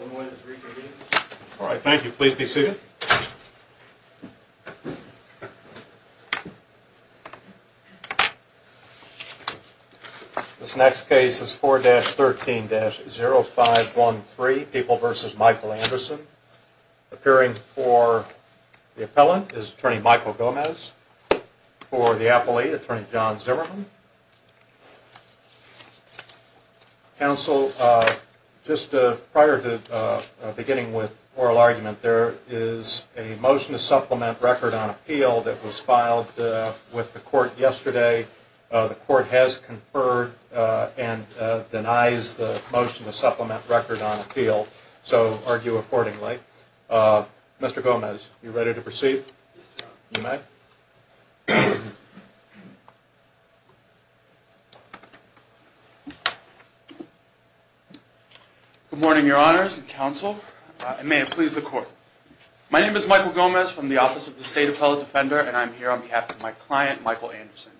All right. Thank you. Please be seated. This next case is 4-13-0513, People v. Michael Anderson. Appearing for the appellant is Attorney Michael Gomez. For the appellate, Attorney John Zimmerman. Counsel, just prior to beginning with oral argument, there is a motion to supplement record on appeal that was filed with the court yesterday. The court has conferred and denies the motion to supplement record on appeal, so argue accordingly. Mr. Gomez, are you ready to proceed? Good morning, Your Honors and Counsel, and may it please the Court. My name is Michael Gomez from the Office of the State Appellate Defender, and I am here on behalf of my client, Michael Anderson.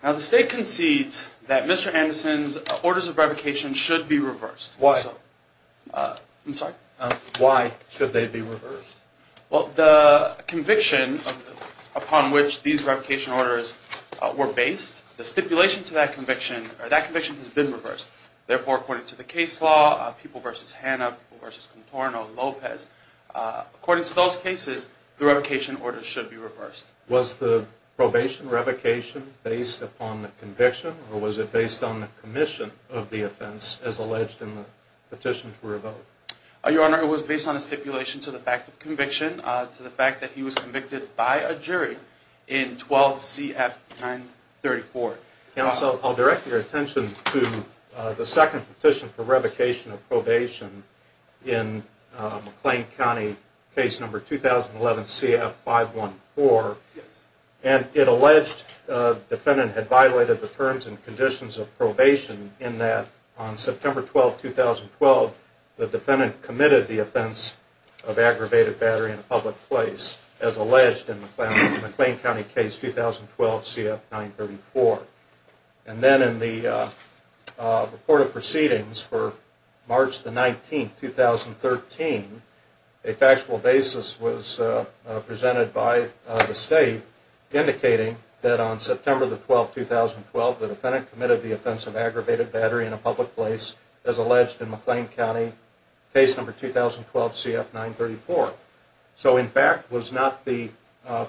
Now, the State concedes that Mr. Anderson's orders of revocation should be reversed. Why? I'm sorry? Why should they be reversed? Well, the conviction upon which these revocation orders were based, the stipulation to that conviction, that conviction has been reversed. Therefore, according to the case law, People v. Hanna, People v. Contorno, Lopez, according to those cases, the revocation order should be reversed. Was the probation revocation based upon the conviction, or was it based on the commission of the offense as alleged in the petition to revoke? Your Honor, it was based on a stipulation to the fact of conviction, to the fact that he was convicted by a jury in 12 CF 934. Counsel, I'll direct your attention to the second petition for revocation of probation in McLean County, case number 2011 CF 514, and it alleged the defendant had violated the terms and conditions of probation in that on September 12, 2012, the defendant committed the offense of aggravated battery in a public place, as alleged in the McLean County case 2012 CF 934. And then in the report of proceedings for March 19, 2013, a factual basis was presented by the State, indicating that on September 12, 2012, the defendant committed the offense of aggravated battery in a public place, as alleged in McLean County, case number 2012 CF 934. So, in fact, was not the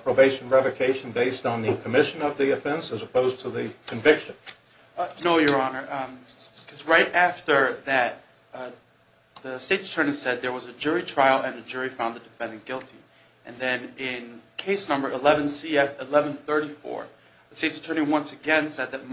probation revocation based on the commission of the offense, as opposed to the conviction? No, Your Honor. Because right after that, the State's attorney said there was a jury trial and the jury found the defendant guilty. And then in case number 11 CF 1134, the State's attorney once again said that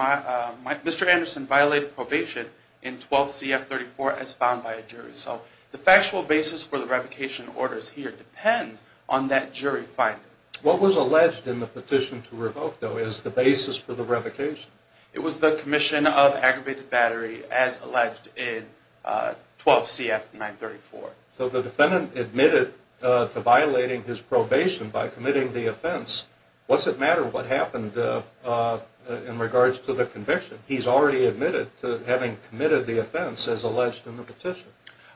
Mr. Anderson violated probation in 12 CF 34 as found by a jury. So the factual basis for the revocation orders here depends on that jury finding. What was alleged in the petition to revoke, though, as the basis for the revocation? It was the commission of aggravated battery, as alleged in 12 CF 934. So the defendant admitted to violating his probation by committing the offense. What's it matter what happened in regards to the conviction? He's already admitted to having committed the offense, as alleged in the petition.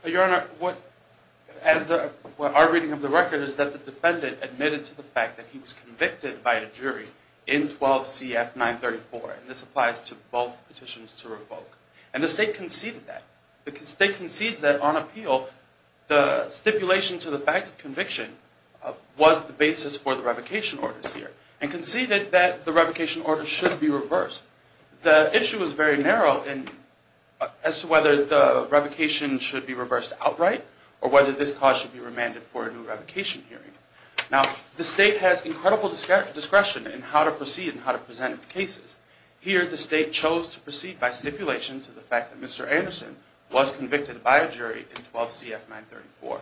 Your Honor, our reading of the record is that the defendant admitted to the fact that he was convicted by a jury in 12 CF 934. This applies to both petitions to revoke. And the State conceded that. The State concedes that on appeal, the stipulation to the fact of conviction was the basis for the revocation orders here and conceded that the revocation order should be reversed. The issue is very narrow as to whether the revocation should be reversed outright or whether this cause should be remanded for a new revocation hearing. Now, the State has incredible discretion in how to proceed and how to present its cases. Here, the State chose to proceed by stipulation to the fact that Mr. Anderson was convicted by a jury in 12 CF 934.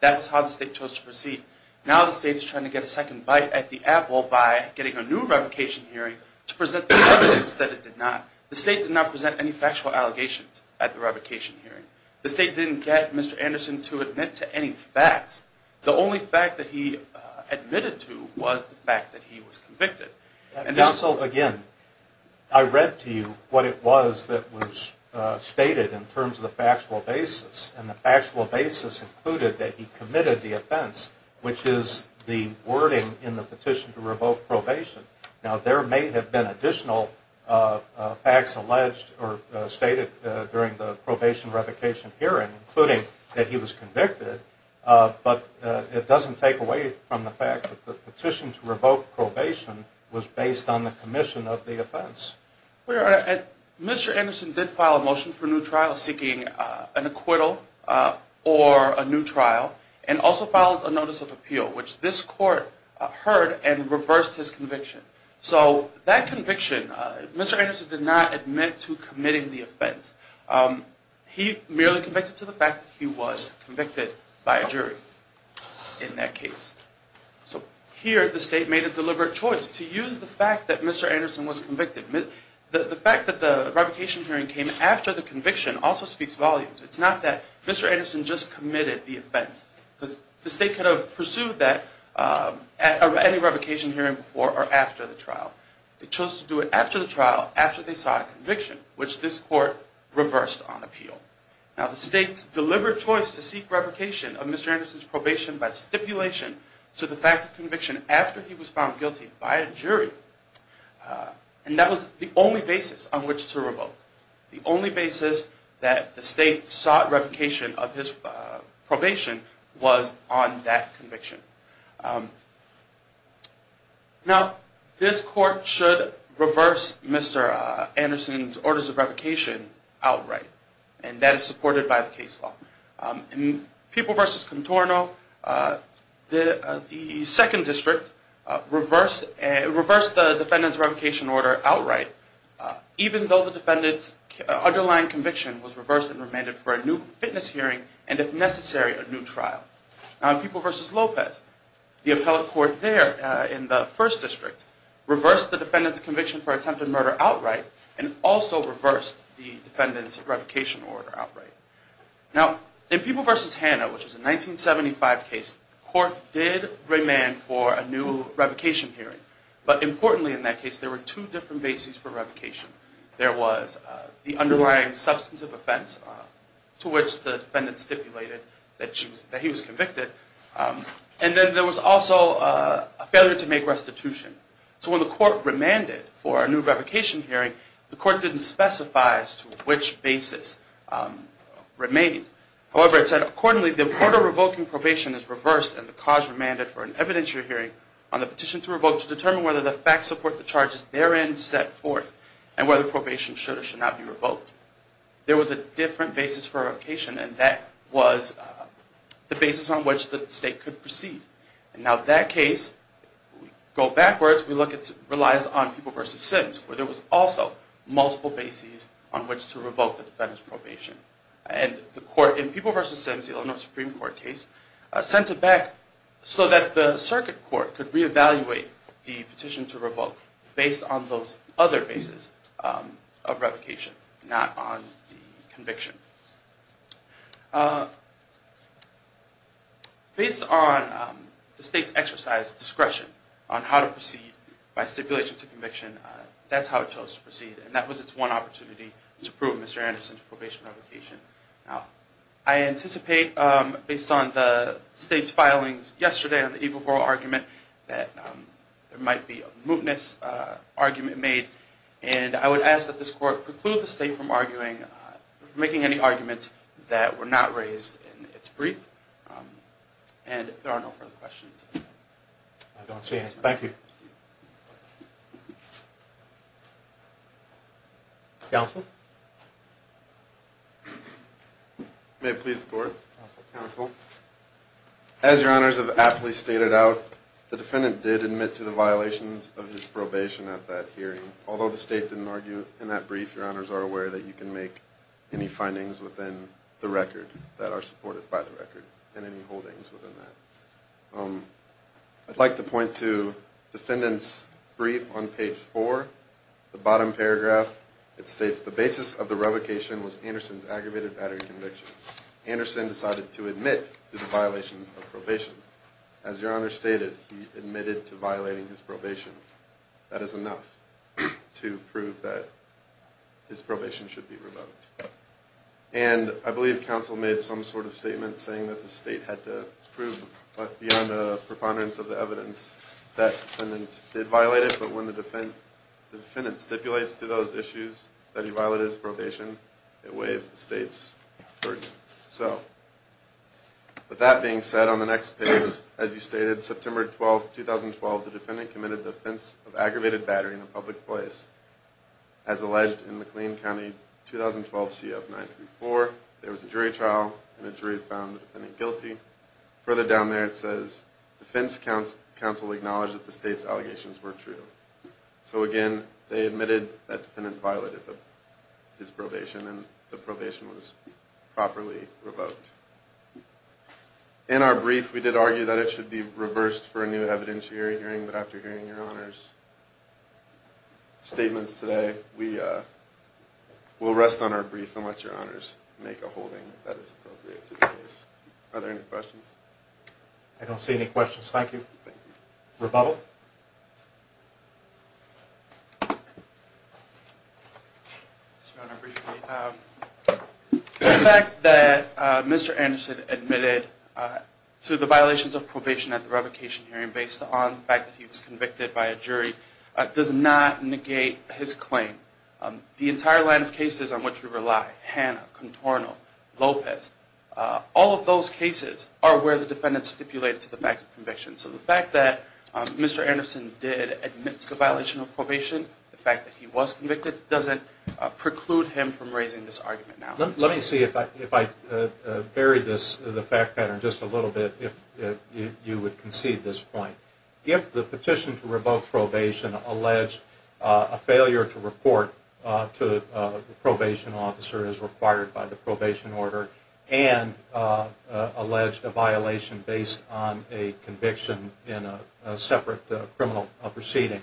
That was how the State chose to proceed. Now the State is trying to get a second bite at the apple by getting a new revocation hearing to present the evidence that it did not. The State did not present any factual allegations at the revocation hearing. The State didn't get Mr. Anderson to admit to any facts. The only fact that he admitted to was the fact that he was convicted. Counsel, again, I read to you what it was that was stated in terms of the factual basis, and the factual basis included that he committed the offense, which is the wording in the petition to revoke probation. Now, there may have been additional facts alleged or stated during the probation revocation hearing, including that he was convicted, but it doesn't take away from the fact that the petition to revoke probation was based on the commission of the offense. Well, Your Honor, Mr. Anderson did file a motion for a new trial seeking an acquittal or a new trial and also filed a notice of appeal, which this court heard and reversed his conviction. So that conviction, Mr. Anderson did not admit to committing the offense. He merely convicted to the fact that he was convicted by a jury in that case. So here the State made a deliberate choice to use the fact that Mr. Anderson was convicted. The fact that the revocation hearing came after the conviction also speaks volumes. It's not that Mr. Anderson just committed the offense, because the State could have pursued that at any revocation hearing before or after the trial. They chose to do it after the trial, after they saw a conviction, which this court reversed on appeal. Now, the State's deliberate choice to seek revocation of Mr. Anderson's probation by stipulation to the fact of conviction after he was found guilty by a jury, and that was the only basis on which to revoke. The only basis that the State sought revocation of his probation was on that conviction. Now, this court should reverse Mr. Anderson's orders of revocation outright, and that is supported by the case law. In People v. Contorno, the Second District reversed the defendant's revocation order outright, even though the defendant's underlying conviction was reversed and remanded for a new fitness hearing and, if necessary, a new trial. Now, in People v. Lopez, the appellate court there in the First District reversed the defendant's conviction for attempted murder outright and also reversed the defendant's revocation order outright. Now, in People v. Hanna, which was a 1975 case, the court did remand for a new revocation hearing, but importantly in that case, there were two different bases for revocation. There was the underlying substantive offense to which the defendant stipulated that he was convicted, and then there was also a failure to make restitution. So when the court remanded for a new revocation hearing, the court didn't specify as to which basis remained. However, it said, accordingly, the order revoking probation is reversed and the cause remanded for an evidentiary hearing on the petition to revoke to determine whether the facts support the charges therein set forth and whether probation should or should not be revoked. There was a different basis for revocation, and that was the basis on which the state could proceed. Now, that case, if we go backwards, relies on People v. Sims, where there was also multiple bases on which to revoke the defendant's probation. In People v. Sims, the Illinois Supreme Court case, sent it back so that the circuit court could reevaluate the petition to revoke based on those other bases of revocation, not on the conviction. Based on the state's exercise of discretion on how to proceed by stipulation to conviction, that's how it chose to proceed, and that was its one opportunity to prove Mr. Anderson's probation revocation. Now, I anticipate, based on the state's filings yesterday on the equal parole argument, that there might be a mootness argument made, and I would ask that this court preclude the state from arguing, from making any arguments that were not raised in its brief. And if there are no further questions. I don't see any. Thank you. Counsel? May it please the court? Counsel. As your honors have aptly stated out, the defendant did admit to the violations of his probation at that hearing. Although the state didn't argue in that brief, your honors are aware that you can make any findings within the record that are supported by the record, and any holdings within that. I'd like to point to defendant's brief on page 4, the bottom paragraph. It states, the basis of the revocation was Anderson's aggravated battery conviction. Anderson decided to admit to the violations of probation. As your honors stated, he admitted to violating his probation. That is enough to prove that his probation should be revoked. And I believe counsel made some sort of statement saying that the state had to prove beyond a preponderance of the evidence that the defendant did violate it, but when the defendant stipulates to those issues that he violated his probation, it weighs the state's burden. With that being said, on the next page, as you stated, September 12, 2012, the defendant committed the offense of aggravated battery in a public place. As alleged in McLean County, 2012 CF 934, there was a jury trial, and a jury found the defendant guilty. Further down there it says, defense counsel acknowledged that the state's allegations were true. So again, they admitted that the defendant violated his probation, and the probation was properly revoked. In our brief, we did argue that it should be reversed for a new evidentiary hearing, but after hearing your honors' statements today, we will rest on our brief and let your honors make a holding that is appropriate to the case. Are there any questions? I don't see any questions. Thank you. Thank you. Rebuttal? Mr. Honor, briefly, the fact that Mr. Anderson admitted to the violations of probation at the revocation hearing based on the fact that he was convicted by a jury does not negate his claim. The entire line of cases on which we rely, Hanna, Contorno, Lopez, all of those cases are where the defendant stipulated to the fact of conviction. So the fact that Mr. Anderson did admit to the violation of probation, the fact that he was convicted, doesn't preclude him from raising this argument now. Let me see if I bury the fact pattern just a little bit, if you would concede this point. If the petition to revoke probation alleged a failure to report to the probation officer as required by the probation order and alleged a violation based on a conviction in a separate criminal proceeding,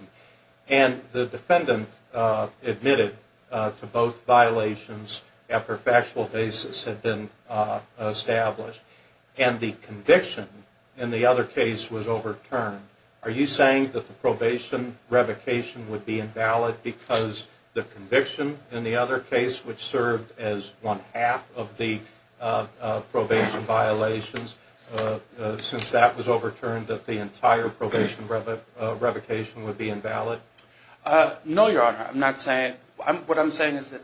and the defendant admitted to both violations after factual basis had been established, and the conviction in the other case was overturned, are you saying that the probation revocation would be invalid because the conviction in the other case, which served as one half of the probation violations, since that was overturned that the entire probation revocation would be invalid? No, Your Honor. What I'm saying is that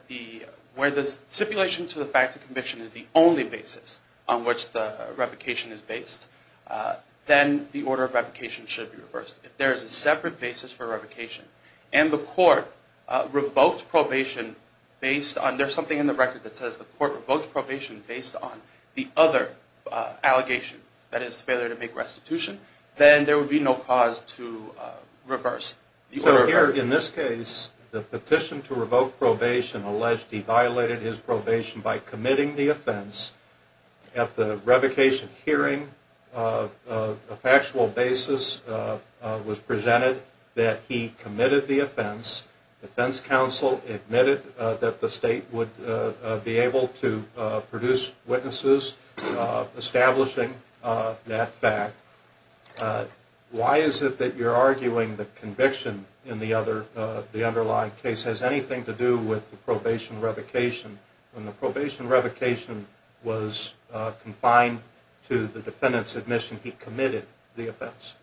where the stipulation to the fact of conviction is the only basis on which the revocation is based, then the order of revocation should be reversed. If there is a separate basis for revocation and the court revoked probation based on, if there is something in the record that says the court revoked probation based on the other allegation, that is the failure to make restitution, then there would be no cause to reverse the order. So here in this case, the petition to revoke probation alleged he violated his probation by committing the offense. At the revocation hearing, a factual basis was presented that he committed the offense. The defense counsel admitted that the state would be able to produce witnesses establishing that fact. Why is it that you're arguing that conviction in the underlying case has anything to do with the probation revocation when the probation revocation was confined to the defendant's admission he committed the offense?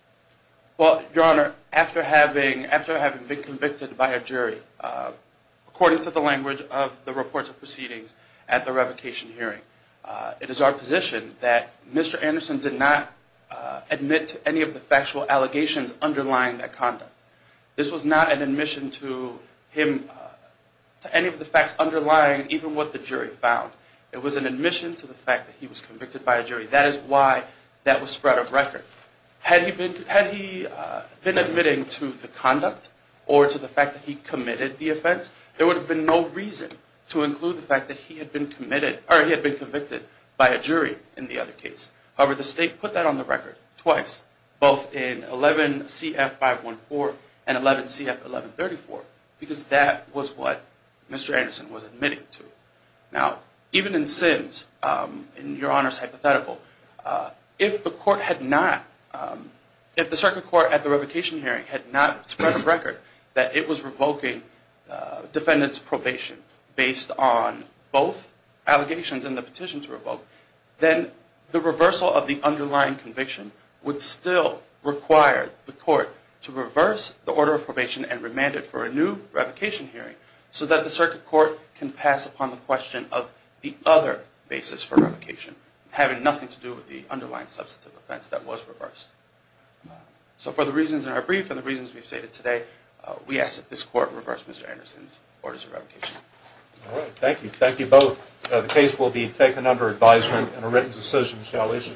Well, Your Honor, after having been convicted by a jury, according to the language of the reports of proceedings at the revocation hearing, it is our position that Mr. Anderson did not admit to any of the factual allegations underlying that conduct. This was not an admission to any of the facts underlying even what the jury found. It was an admission to the fact that he was convicted by a jury. That is why that was spread of record. Had he been admitting to the conduct or to the fact that he committed the offense, there would have been no reason to include the fact that he had been convicted by a jury in the other case. However, the state put that on the record twice, both in 11 CF 514 and 11 CF 1134, because that was what Mr. Anderson was admitting to. Now, even in Sims, in Your Honor's hypothetical, if the circuit court at the revocation hearing had not spread of record that it was revoking defendant's probation based on both allegations and the petition to revoke, then the reversal of the underlying conviction would still require the court to reverse the order of probation and remand it for a new revocation hearing so that the circuit court can pass upon the question of the other basis for revocation, having nothing to do with the underlying substantive offense that was reversed. So for the reasons in our brief and the reasons we've stated today, we ask that this court reverse Mr. Anderson's orders of revocation. All right. Thank you. Thank you both. The case will be taken under advisement and a written decision shall issue.